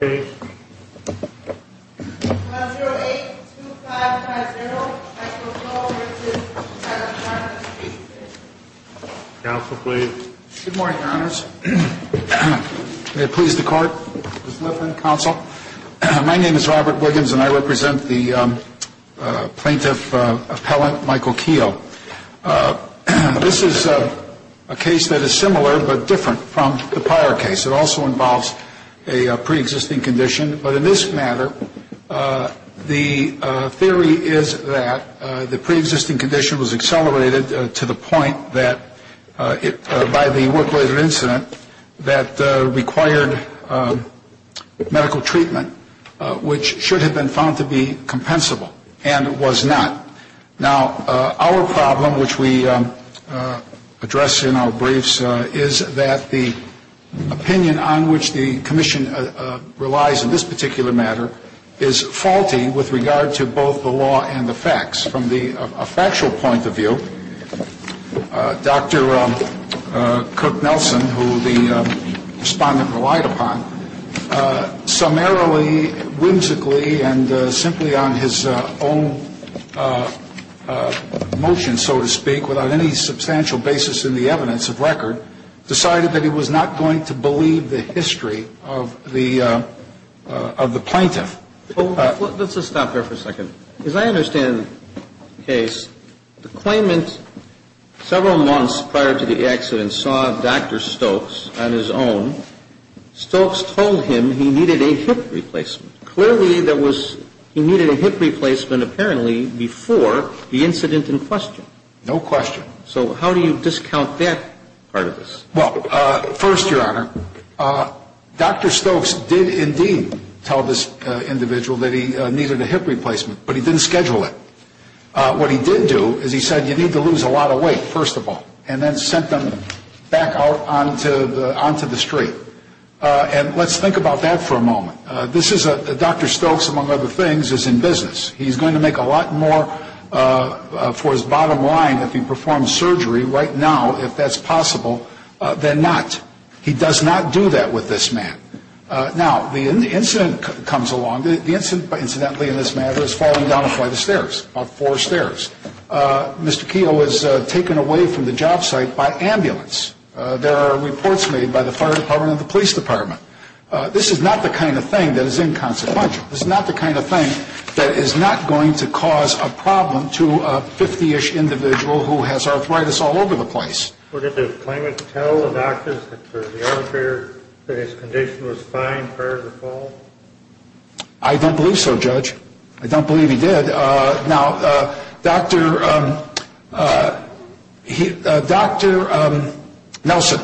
My name is Robert Williams and I represent the plaintiff appellant Michael Kehoe. This is a case that is similar but different from the prior case. It also involves a pre-existing condition. But in this matter, the theory is that the pre-existing condition was accelerated to the point that, by the work-related incident, that required medical treatment, which should have been found to be compensable, and it was not. Now, our problem, which we address in our briefs, is that the opinion on which the Commission relies in this particular matter is faulty with regard to both the law and the facts. From a factual point of view, Dr. Stokes, on his own motion, so to speak, without any substantial basis in the evidence of record, decided that he was not going to believe the history of the plaintiff. Let's just stop there for a second. As I understand the case, the claimant, several months prior to the accident, saw Dr. Stokes on his own. Stokes told him he needed a hip replacement. Clearly, there was, he needed a hip replacement, apparently, before the incident in question. No question. So how do you discount that part of this? Well, first, Your Honor, Dr. Stokes did indeed tell this individual that he needed a hip replacement, but he didn't schedule it. What he did do is he said, you need to lose a lot of weight, first of all, and then sent them back out onto the street. And let's think about that for a moment. This is a, Dr. Stokes, among other things, is in business. He's going to make a lot more for his bottom line if he performs surgery right now, if that's possible, than not. He does not do that with this man. Now, the incident comes along. The incident, incidentally, in this matter, is falling down a flight of stairs, about four stairs. Mr. Keough is taken away from the job site by This is not the kind of thing that is inconsequential. This is not the kind of thing that is not going to cause a problem to a 50-ish individual who has arthritis all over the place. Well, did the claimant tell the doctors that the armature, that his condition was fine prior to the fall? I don't believe so, Judge. I don't believe he did. Now, Dr. Nelson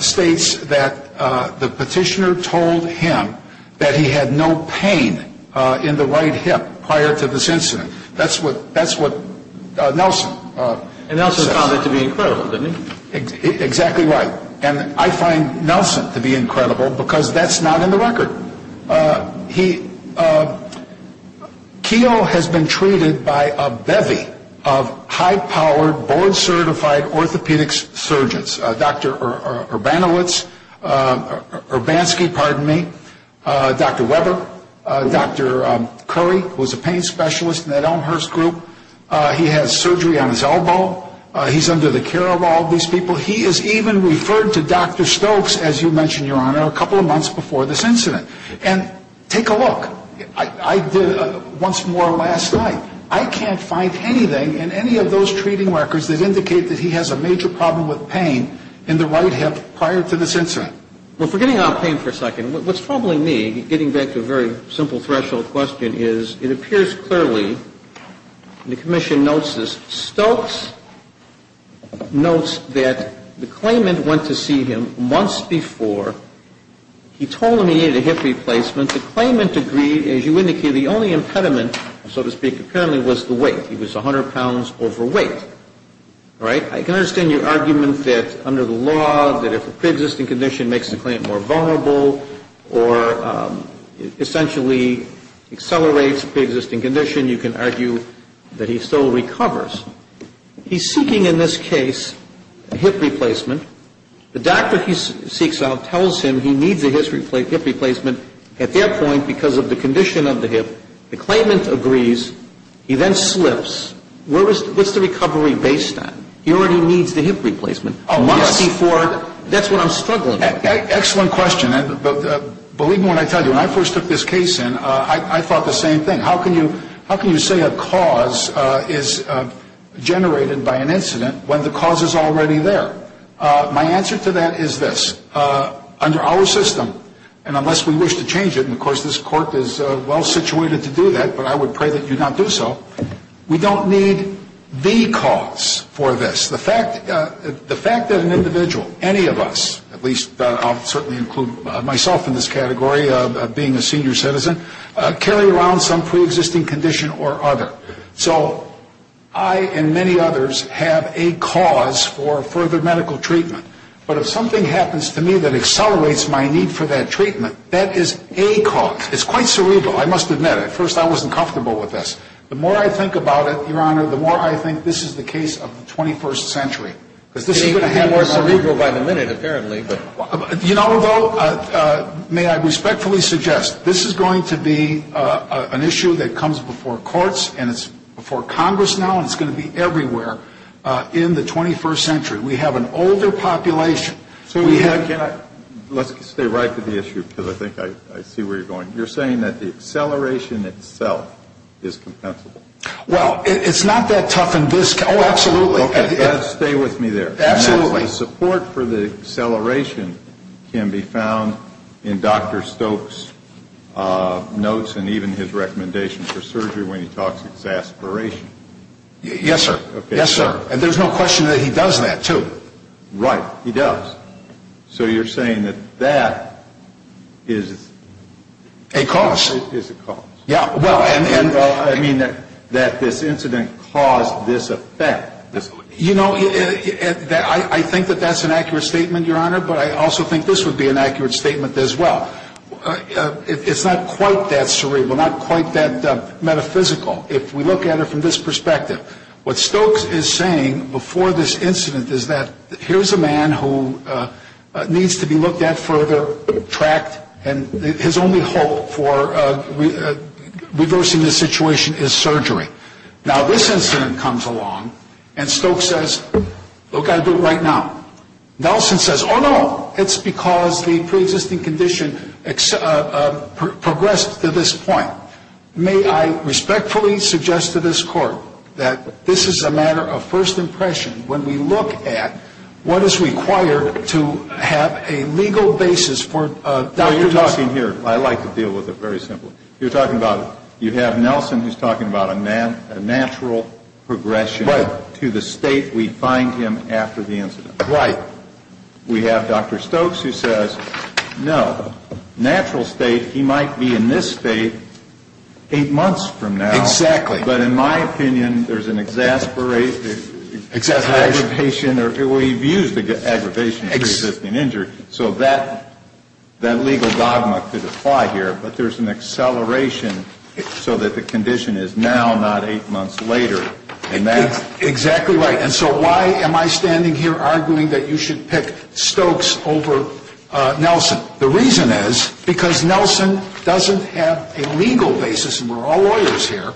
states that the petitioner told him that he had no pain in the right hip prior to this incident. That's what Nelson says. And Nelson found that to be incredible, didn't he? Exactly right. And I find Nelson to be incredible because that's not in the record. He, Keough has been treated by a bevy of high-powered, board-certified orthopedic surgeons. Dr. Urbanovitz, Dr. Urbanski, pardon me, Dr. Weber, Dr. Curry, who is a pain specialist in that Elmhurst group. He has surgery on his elbow. He's under the care of all these people. He has even referred to Dr. Stokes, as you mentioned, Your Honor, a couple of months before this incident. And take a look. I did once more last night. I can't find anything in any of those treating records that indicate that he has a major problem with pain in the right hip prior to this incident. Well, forgetting about pain for a second, what's troubling me, getting back to a very simple threshold question, is it appears clearly, and the Commission notes this, Stokes notes that the claimant went to see him months before. He told him he needed a hip replacement. The claimant agreed, as you indicated, the only impediment, so to speak, apparently was the weight. He was 100 pounds overweight. All right? I can understand your argument that under the law, that if a preexisting condition makes the claimant more vulnerable or essentially accelerates a preexisting condition, you can argue that he still recovers. He's seeking, in this case, a hip replacement. The doctor he seeks out tells him he needs a hip replacement. At that point, because of the condition of the hip, the claimant agrees. He then slips. What's the recovery based on? He already needs the hip replacement. Oh, yes. That's what I'm struggling with. Excellent question. Believe me when I tell you, when I first took this case in, I thought the same thing. How can you say a cause is generated by an incident when the cause is already there? My answer to that is this. Under our system, and unless we wish to change it, and of course this court is well-situated to do that, but I would pray that you not do so, we don't need the cause for this. The fact that an individual, any of us, at least I'll certainly include myself in this category, being a senior citizen, carry around some preexisting condition or other. So I and many others have a cause for further medical treatment. But if something happens to me that accelerates my need for that treatment, that is a cause. It's quite cerebral, I must admit. At first I wasn't comfortable with this. The more I think about it, Your Honor, the more I think this is the case of the 21st century. Because this is going to be more cerebral by the minute, apparently, but... You know, though, may I respectfully suggest, this is going to be an issue that comes before courts and it's before Congress now and it's going to be everywhere in the 21st century. We have an older population. So why can't I, let's stay right to the issue, because I think I see where you're going. You're saying that the acceleration itself is compensable? Well, it's not that tough in this... Oh, absolutely. Okay, stay with me there. Absolutely. The support for the acceleration can be found in Dr. Stokes' notes and even his recommendation for surgery when he talks exasperation. Yes, sir. Yes, sir. And there's no question that he does that, too. Right, he does. So you're saying that that is... A cause. Is a cause. Yeah, well, and... And, well, I mean, that this incident caused this effect. You know, I think that that's an accurate statement, Your Honor, but I also think this would be an accurate statement as well. It's not quite that cerebral, not quite that metaphysical. If we look at it from this perspective, what Stokes is saying before this incident is that here's a man who needs to be looked at further, tracked, and his only hope for reversing this situation is surgery. Now, this incident comes along, and Stokes says, look, I'll do it right now. Nelson says, oh, no, it's because the preexisting condition progressed to this point. Now, may I respectfully suggest to this Court that this is a matter of first impression when we look at what is required to have a legal basis for Dr. Stokes... Well, you're talking here. I like to deal with it very simply. You're talking about you have Nelson who's talking about a natural progression to the state we find him after the incident. Right. We have Dr. Stokes who says, no, natural state, he might be in this state eight months from now. Exactly. But in my opinion, there's an exasperation, aggravation, or we've used aggravation to resist an injury, so that legal dogma could apply here, but there's an acceleration so that the condition is now, not eight months later, and that... We should pick Stokes over Nelson. The reason is because Nelson doesn't have a legal basis, and we're all lawyers here,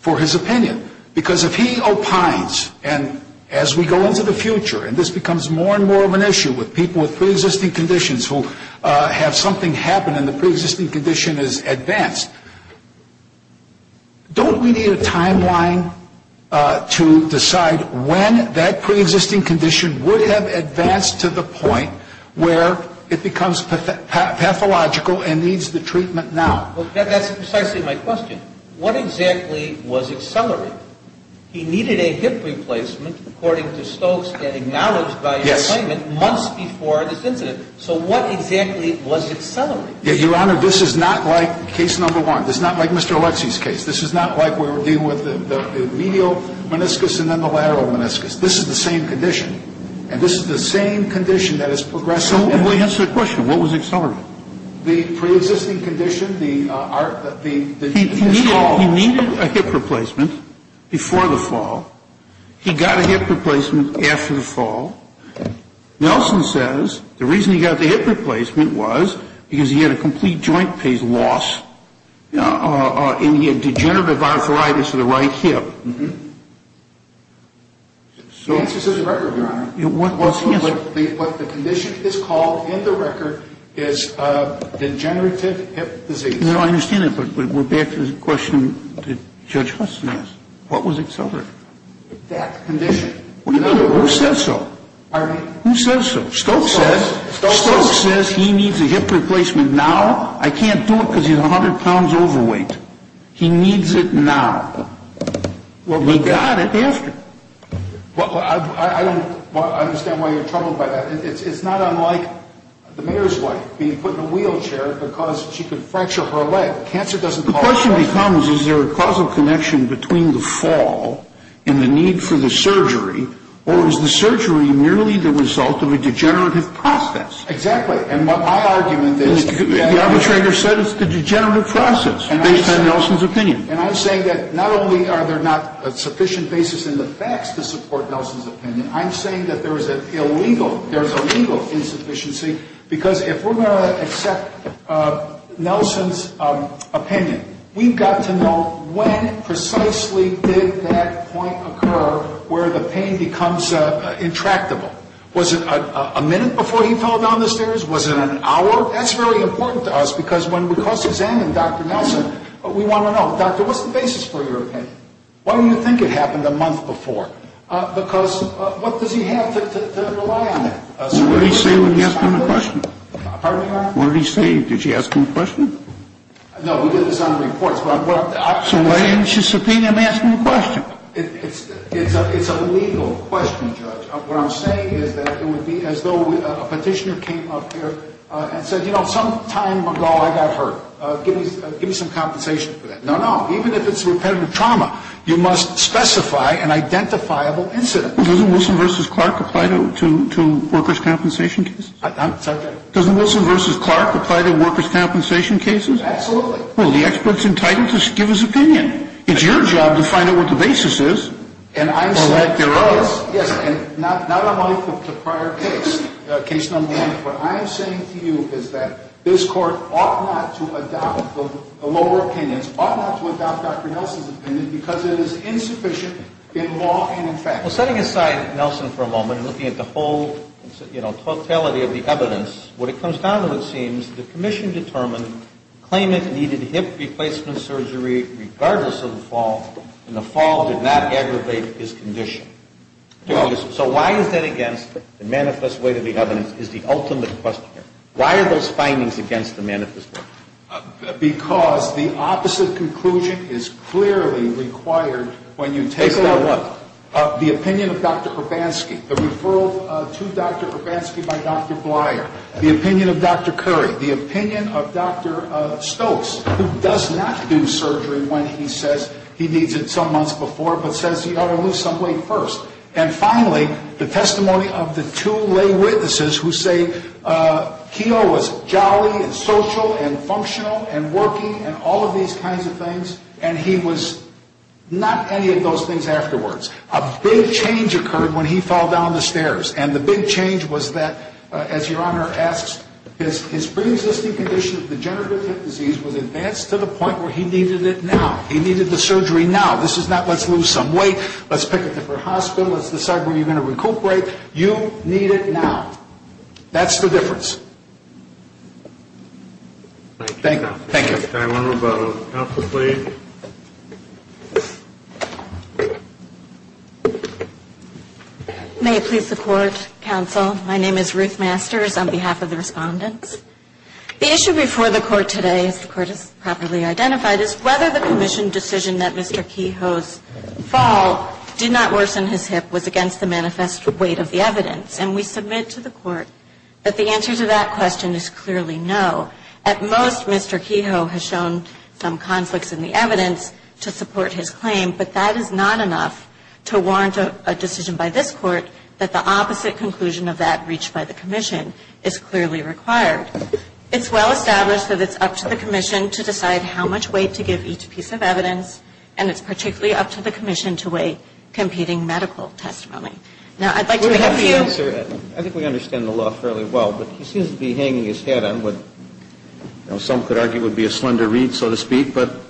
for his opinion. Because if he opines, and as we go into the future, and this becomes more and more of an issue with people with preexisting conditions who have something happen and the preexisting condition has advanced, don't we need a timeline to decide when that preexisting condition would have advanced to the point where it becomes pathological and needs the treatment now? That's precisely my question. What exactly was accelerated? He needed a hip replacement, according to Stokes, and acknowledged by his claimant months before this incident. So what exactly was accelerated? Your Honor, this is not like case number one. This is not like Mr. Alexie's case. This is not like we were dealing with the medial meniscus and then the lateral meniscus. This is the same condition. And this is the same condition that is progressing... So, let me answer the question. What was accelerated? The preexisting condition, the... He needed a hip replacement before the fall. He got a hip replacement after the fall. Nelson says the reason he got the hip replacement was because he had a complete joint pace loss and he had degenerative arthritis of the right hip. The answer is in the record, Your Honor. What's the answer? What the condition is called in the record is degenerative hip disease. No, I understand that, but we're back to the question that Judge Hudson asked. What was accelerated? That condition. What do you mean? Who says so? Pardon me? Who says so? Stokes says... Stokes says... He needs it now. He got it after. Well, I don't understand why you're troubled by that. It's not unlike the mayor's wife being put in a wheelchair because she could fracture her leg. Cancer doesn't cause... The question becomes, is there a causal connection between the fall and the need for the surgery, or is the surgery merely the result of a degenerative process? Exactly. And my argument is... The arbitrator said it's the degenerative process based on Nelson's opinion. And I'm saying that not only are there not a sufficient basis in the facts to support Nelson's opinion, I'm saying that there's a legal insufficiency because if we're going to accept Nelson's opinion, we've got to know when precisely did that point occur where the pain becomes intractable. Was it a minute before he fell down the stairs? Was it an hour before he fell down the stairs? That's really important to us because when we cross-examine Dr. Nelson, we want to know, Doctor, what's the basis for your opinion? Why do you think it happened a month before? Because what does he have to rely on it? What did he say when you asked him a question? Pardon me, Your Honor? What did he say? Did you ask him a question? No, we did this on the reports. So why didn't you subpoena him asking a question? It's a legal question, Judge. What I'm saying is that it would be as though a petitioner came up here and said, you know, sometime ago I got hurt. Give me some compensation for that. No, no. Even if it's repetitive trauma, you must specify an identifiable incident. Well, doesn't Wilson v. Clark apply to workers' compensation cases? I'm sorry? Doesn't Wilson v. Clark apply to workers' compensation cases? Absolutely. Well, the expert's entitled to give his opinion. It's your job to find out what the basis is or lack thereof. Yes, yes. And not unlike the prior case, case number one, what I am saying to you is that this Court ought not to adopt the lower opinions, ought not to adopt Dr. Nelson's opinion, because it is insufficient in law and in fact. Well, setting aside Nelson for a moment and looking at the whole, you know, totality of the evidence, what it comes down to, it seems, the Commission determined Klamath needed hip replacement surgery regardless of the fall, and the fall did not aggravate his condition. So why is that against the manifest way to the evidence is the ultimate question here. Why are those findings against the manifest way? Because the opposite conclusion is clearly required when you take the opinion of Dr. Urbanski, the referral to Dr. Urbanski by Dr. Bleier, the opinion of Dr. Curry, the when he says he needs it some months before, but says he ought to lose some weight first. And finally, the testimony of the two lay witnesses who say Keogh was jolly and social and functional and working and all of these kinds of things, and he was not any of those things afterwards. A big change occurred when he fell down the stairs, and the big change was that, as Your point where he needed it now, he needed the surgery now, this is not let's lose some weight, let's pick a different hospital, let's decide where you're going to recuperate. You need it now. That's the difference. Thank you. Thank you. Can I have one more about counsel, please? May I please support counsel? My name is Ruth Masters on behalf of the respondents. The issue before the Court today, as the Court has properly identified, is whether the commission decision that Mr. Keogh's fall did not worsen his hip was against the manifest weight of the evidence. And we submit to the Court that the answer to that question is clearly no. At most, Mr. Keogh has shown some conflicts in the evidence to support his claim, but that is not enough to warrant a decision by this Court that the opposite conclusion of that reached by the commission is clearly required. It's well established that it's up to the commission to decide how much weight to give each piece of evidence, and it's particularly up to the commission to weigh competing medical testimony. Now, I'd like to make a few. I think we understand the law fairly well, but he seems to be hanging his head on what, you know, some could argue would be a slender reed, so to speak. But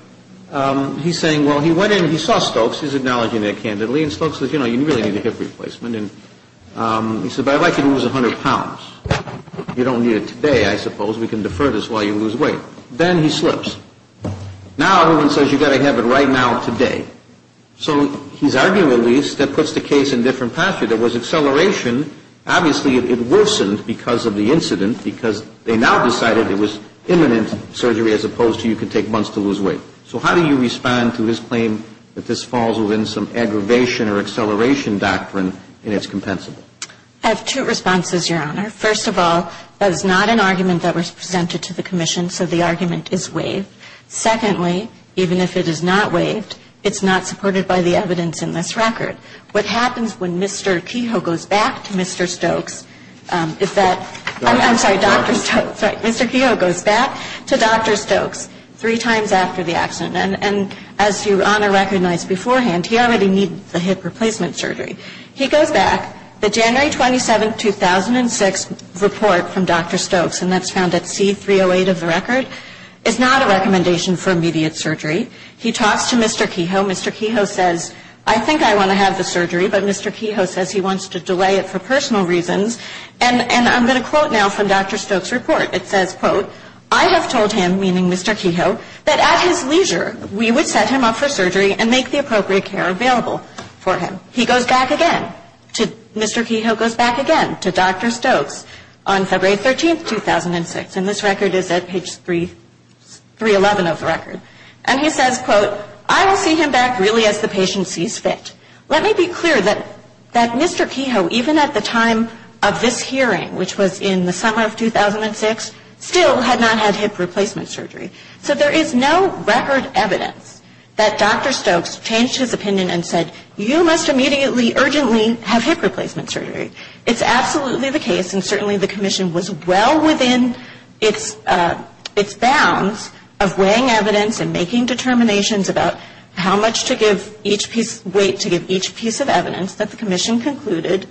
he's saying, well, he went in, he saw Stokes, he's acknowledging that candidly, and Stokes says, you know, you really need a hip replacement. And he says, but I'd like you to lose 100 pounds. You don't need it today, I suppose. We can defer this while you lose weight. Then he slips. Now, everyone says you've got to have it right now, today. So he's arguing, at least, that puts the case in a different posture. There was acceleration. Obviously, it worsened because of the incident because they now decided it was imminent surgery as opposed to you could take months to lose weight. So how do you respond to his claim that this falls within some aggravation or acceleration doctrine and it's compensable? I have two responses, Your Honor. First of all, that is not an argument that was presented to the commission, so the argument is waived. Secondly, even if it is not waived, it's not supported by the evidence in this record. What happens when Mr. Kehoe goes back to Mr. Stokes, if that – I'm sorry, Dr. Stokes. Sorry, Mr. Kehoe goes back to Dr. Stokes three times after the accident. And as Your Honor recognized beforehand, he already needed the hip replacement surgery. He goes back. The January 27, 2006, report from Dr. Stokes, and that's found at C-308 of the record, is not a recommendation for immediate surgery. He talks to Mr. Kehoe. Mr. Kehoe says, I think I want to have the surgery, but Mr. Kehoe says he wants to delay it for personal reasons. And I'm going to quote now from Dr. Stokes' report. It says, quote, I have told him, meaning Mr. Kehoe, that at his leisure, we would set him up for surgery and make the appropriate care available for him. He goes back again. Mr. Kehoe goes back again to Dr. Stokes on February 13, 2006. And this record is at page 311 of the record. And he says, quote, I will see him back really as the patient sees fit. Let me be clear that Mr. Kehoe, even at the time of this hearing, which was in the summer of 2006, still had not had hip replacement surgery. So there is no record evidence that Dr. Stokes changed his opinion and said, you must immediately, urgently have hip replacement surgery. It's absolutely the case, and certainly the commission was well within its bounds of weighing evidence and making determinations about how much to give each piece of evidence that the commission concluded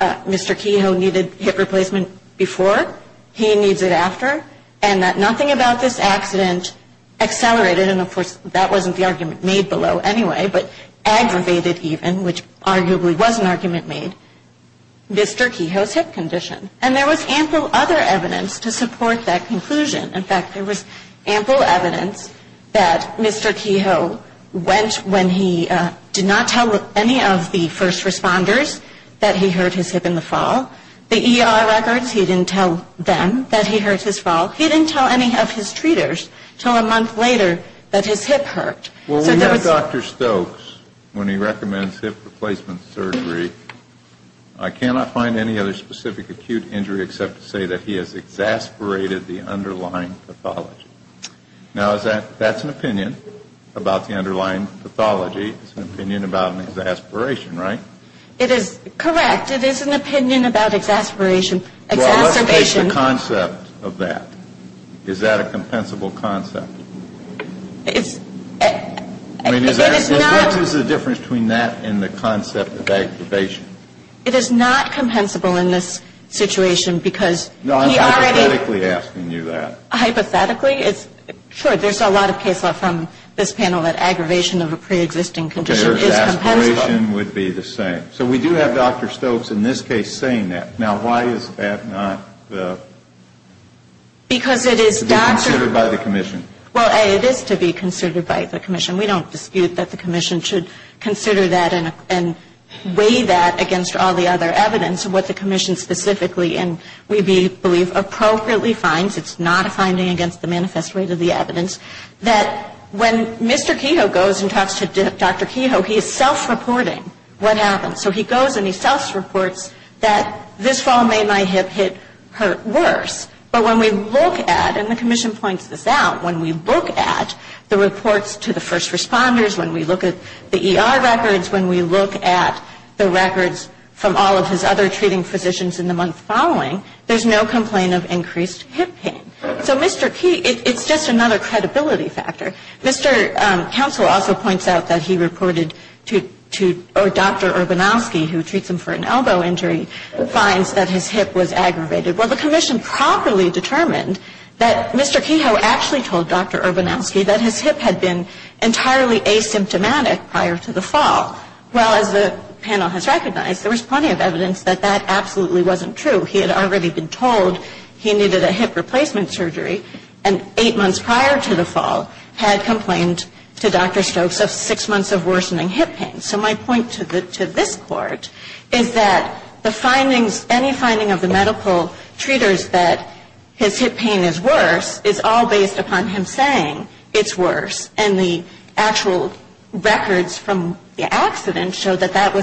Mr. Kehoe needed hip replacement before, he needs it after, and that nothing about this accident accelerated, and of course that wasn't the argument made below anyway, but aggravated even, which arguably was an argument made, Mr. Kehoe's hip condition. And there was ample other evidence to support that conclusion. In fact, there was ample evidence that Mr. Kehoe went when he did not tell any of the first responders that he hurt his hip in the fall. The ER records, he didn't tell them that he hurt his fall. He didn't tell any of his treaters until a month later that his hip hurt. So there was no evidence. Well, we have Dr. Stokes when he recommends hip replacement surgery. I cannot find any other specific acute injury except to say that he has exasperated the underlying pathology. Now, that's an opinion about the underlying pathology. It's an opinion about an exasperation, right? It is correct. It is an opinion about exasperation. Well, let's take the concept of that. Is that a compensable concept? I mean, is there a difference between that and the concept of aggravation? It is not compensable in this situation because he already ---- No, I'm hypothetically asking you that. Hypothetically? Sure, there's a lot of case law from this panel that aggravation of a preexisting condition is compensable. Okay, so aspiration would be the same. So we do have Dr. Stokes in this case saying that. Now, why is that not the ---- Because it is doctor ---- It is to be considered by the commission. Well, it is to be considered by the commission. We don't dispute that the commission should consider that and weigh that against all the other evidence and what the commission specifically and we believe appropriately finds. It's not a finding against the manifest rate of the evidence. That when Mr. Kehoe goes and talks to Dr. Kehoe, he is self-reporting what happened. So he goes and he self-reports that this fall made my hip hurt worse. But when we look at, and the commission points this out, when we look at the reports to the first responders, when we look at the ER records, when we look at the records from all of his other treating physicians in the month following, there's no complaint of increased hip pain. So Mr. Kehoe, it's just another credibility factor. Mr. Counsel also points out that he reported to Dr. Urbanowski, who treats him for an elbow injury, finds that his hip was aggravated. Well, the commission properly determined that Mr. Kehoe actually told Dr. Urbanowski that his hip had been entirely asymptomatic prior to the fall. Well, as the panel has recognized, there was plenty of evidence that that absolutely wasn't true. He had already been told he needed a hip replacement surgery and eight months prior to the fall had complained to Dr. Stokes of six months of worsening hip pain. So my point to this Court is that the findings, any finding of the medical treaters that his hip pain is worse is all based upon him saying it's worse. And the actual records from the accident show that that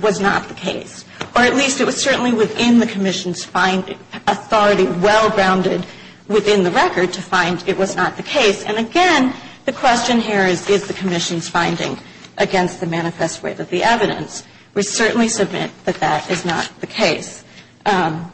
was not the case, or at least it was certainly within the commission's authority, well-grounded within the record to find it was not the case. And again, the question here is, is the commission's finding against the manifest weight of the evidence? We certainly submit that that is not the case. And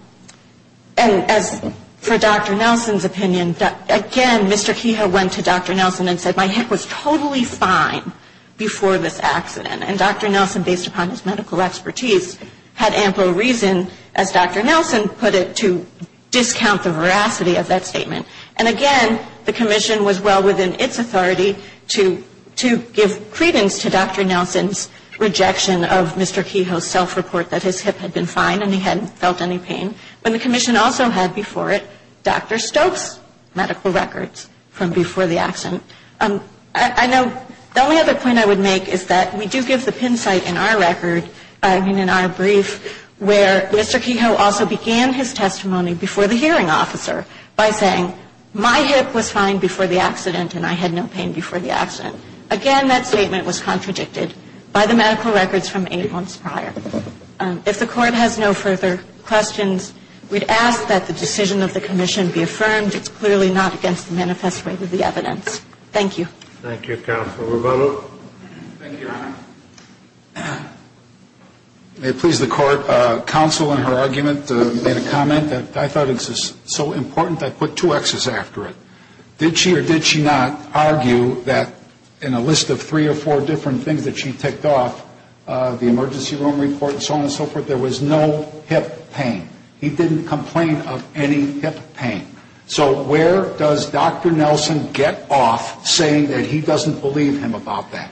as for Dr. Nelson's opinion, again, Mr. Kehoe went to Dr. Nelson and said, my hip was totally fine before this accident. And Dr. Nelson, based upon his medical expertise, had ample reason, as Dr. Nelson put it, to discount the veracity of that statement. And again, the commission was well within its authority to give credence to Dr. Nelson's rejection of Mr. Kehoe's self-report that his hip had been fine and he hadn't felt any pain. But the commission also had before it Dr. Stokes' medical records from before the accident. I know the only other point I would make is that we do give the pin site in our record, I mean in our brief, where Mr. Kehoe also began his testimony before the hearing by saying, my hip was fine before the accident and I had no pain before the accident. Again, that statement was contradicted by the medical records from eight months prior. If the Court has no further questions, we'd ask that the decision of the commission be affirmed. It's clearly not against the manifest weight of the evidence. Thank you. Thank you, Counselor Revello. Thank you, Your Honor. May it please the Court, Counsel in her argument made a comment that I thought was so important that I put two X's after it. Did she or did she not argue that in a list of three or four different things that she ticked off, the emergency room report and so on and so forth, there was no hip pain? He didn't complain of any hip pain. So where does Dr. Nelson get off saying that he doesn't believe him about that?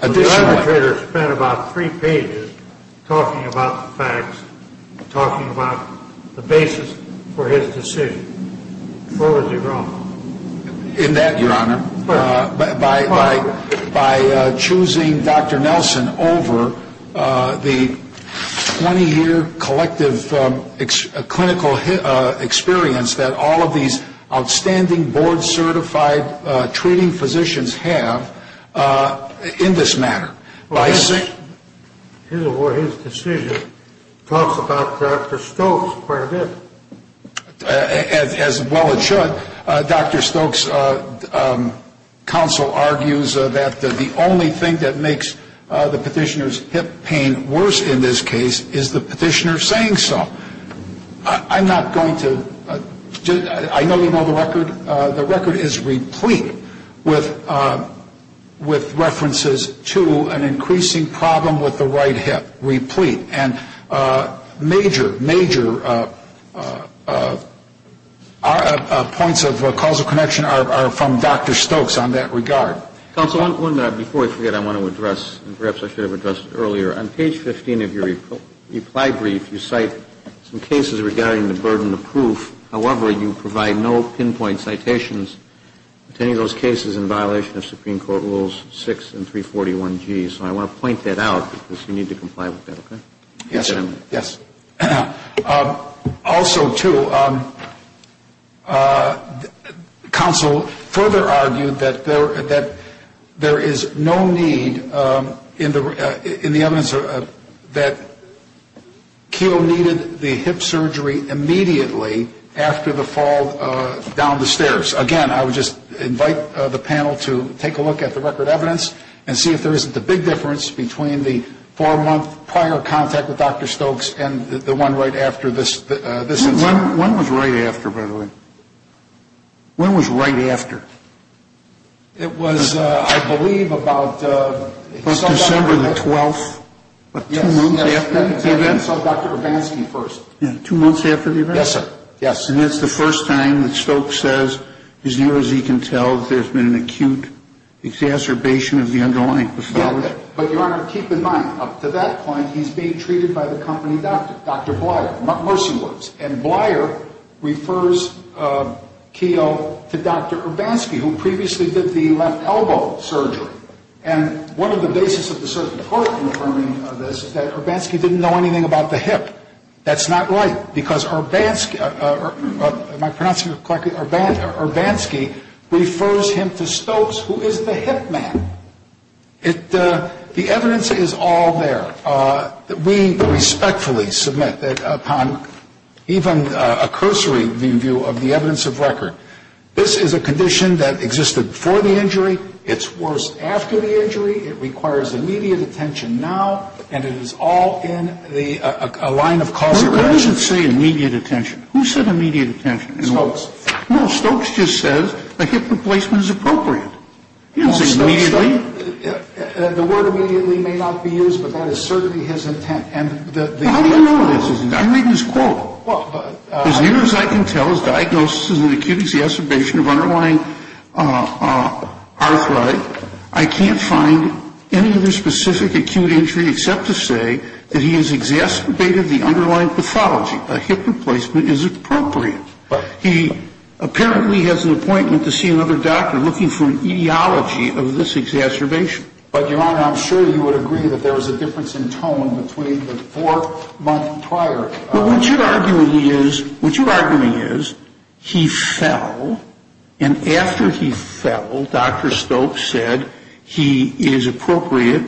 The arbitrator spent about three pages talking about the facts, talking about the basis for his decision. Where was he wrong? In that, Your Honor, by choosing Dr. Nelson over the 20-year collective clinical experience that all of these outstanding board-certified treating physicians have in this matter. His decision talks about Dr. Stokes where it is. As well it should. Dr. Stokes' counsel argues that the only thing that makes the petitioner's hip pain worse in this case is the petitioner saying so. I'm not going to, I know you know the record. The record is replete with references to an increasing problem with the right hip. Replete. And major, major points of causal connection are from Dr. Stokes on that regard. Counsel, one minute before I forget, I want to address, and perhaps I should have addressed earlier, on page 15 of your reply brief you cite some cases regarding the burden of proof. However, you provide no pinpoint citations to any of those cases in violation of Supreme Court rules 6 and 341G. So I want to point that out because you need to comply with that, okay? Yes, sir. Yes. Also, too, counsel further argued that there is no need in the evidence that Keogh needed the hip surgery immediately after the fall down the stairs. Again, I would just invite the panel to take a look at the record evidence and see if there isn't a big difference between the four-month prior contact with Dr. Stokes and the one right after this incident. When was right after, by the way? When was right after? It was, I believe, about December the 12th. Yes. Two months after the event? I saw Dr. Urbanski first. Two months after the event? Yes, sir. Yes. And it's the first time that Stokes says as near as he can tell that there's been an acute exacerbation of the underlying pathology. But, Your Honor, keep in mind, up to that point, he's being treated by the company doctor, Dr. Bleier, Mercy Works. And Bleier refers Keogh to Dr. Urbanski, who previously did the left elbow surgery. And one of the basis of the circuit court confirming this is that Urbanski didn't know anything about the hip. That's not right because Urbanski refers him to Stokes, who is the hip man. The evidence is all there. We respectfully submit that upon even a cursory view of the evidence of record, this is a condition that existed before the injury. It's worse after the injury. It requires immediate attention now. And it is all in a line of caution. No, it doesn't say immediate attention. Who said immediate attention? Stokes. No, Stokes just says a hip replacement is appropriate. He doesn't say immediately. The word immediately may not be used, but that is certainly his intent. How do you know this isn't? I'm reading his quote. As near as I can tell, his diagnosis is an acute exacerbation of underlying arthritis. I can't find any other specific acute injury except to say that he has exacerbated the underlying pathology. A hip replacement is appropriate. He apparently has an appointment to see another doctor looking for an etiology of this exacerbation. But, Your Honor, I'm sure you would agree that there was a difference in tone between the four months prior. What you're arguing is he fell, and after he fell, Dr. Stokes said he is appropriate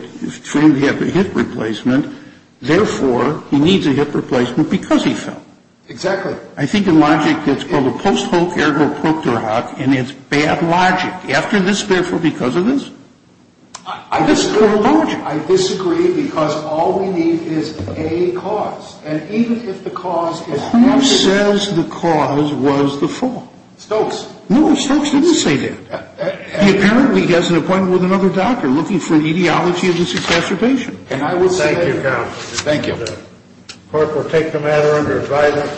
for him to have a hip replacement. Therefore, he needs a hip replacement because he fell. Exactly. I think in logic it's called a post hoc ergo proctor hoc, and it's bad logic. After this, therefore, because of this. I disagree because all we need is a cause. And even if the cause is not a cause. Who says the cause was the fall? Stokes. No, Stokes didn't say that. He apparently has an appointment with another doctor looking for an etiology of this exacerbation. Thank you, counsel. Thank you. The court will take the matter under advisory.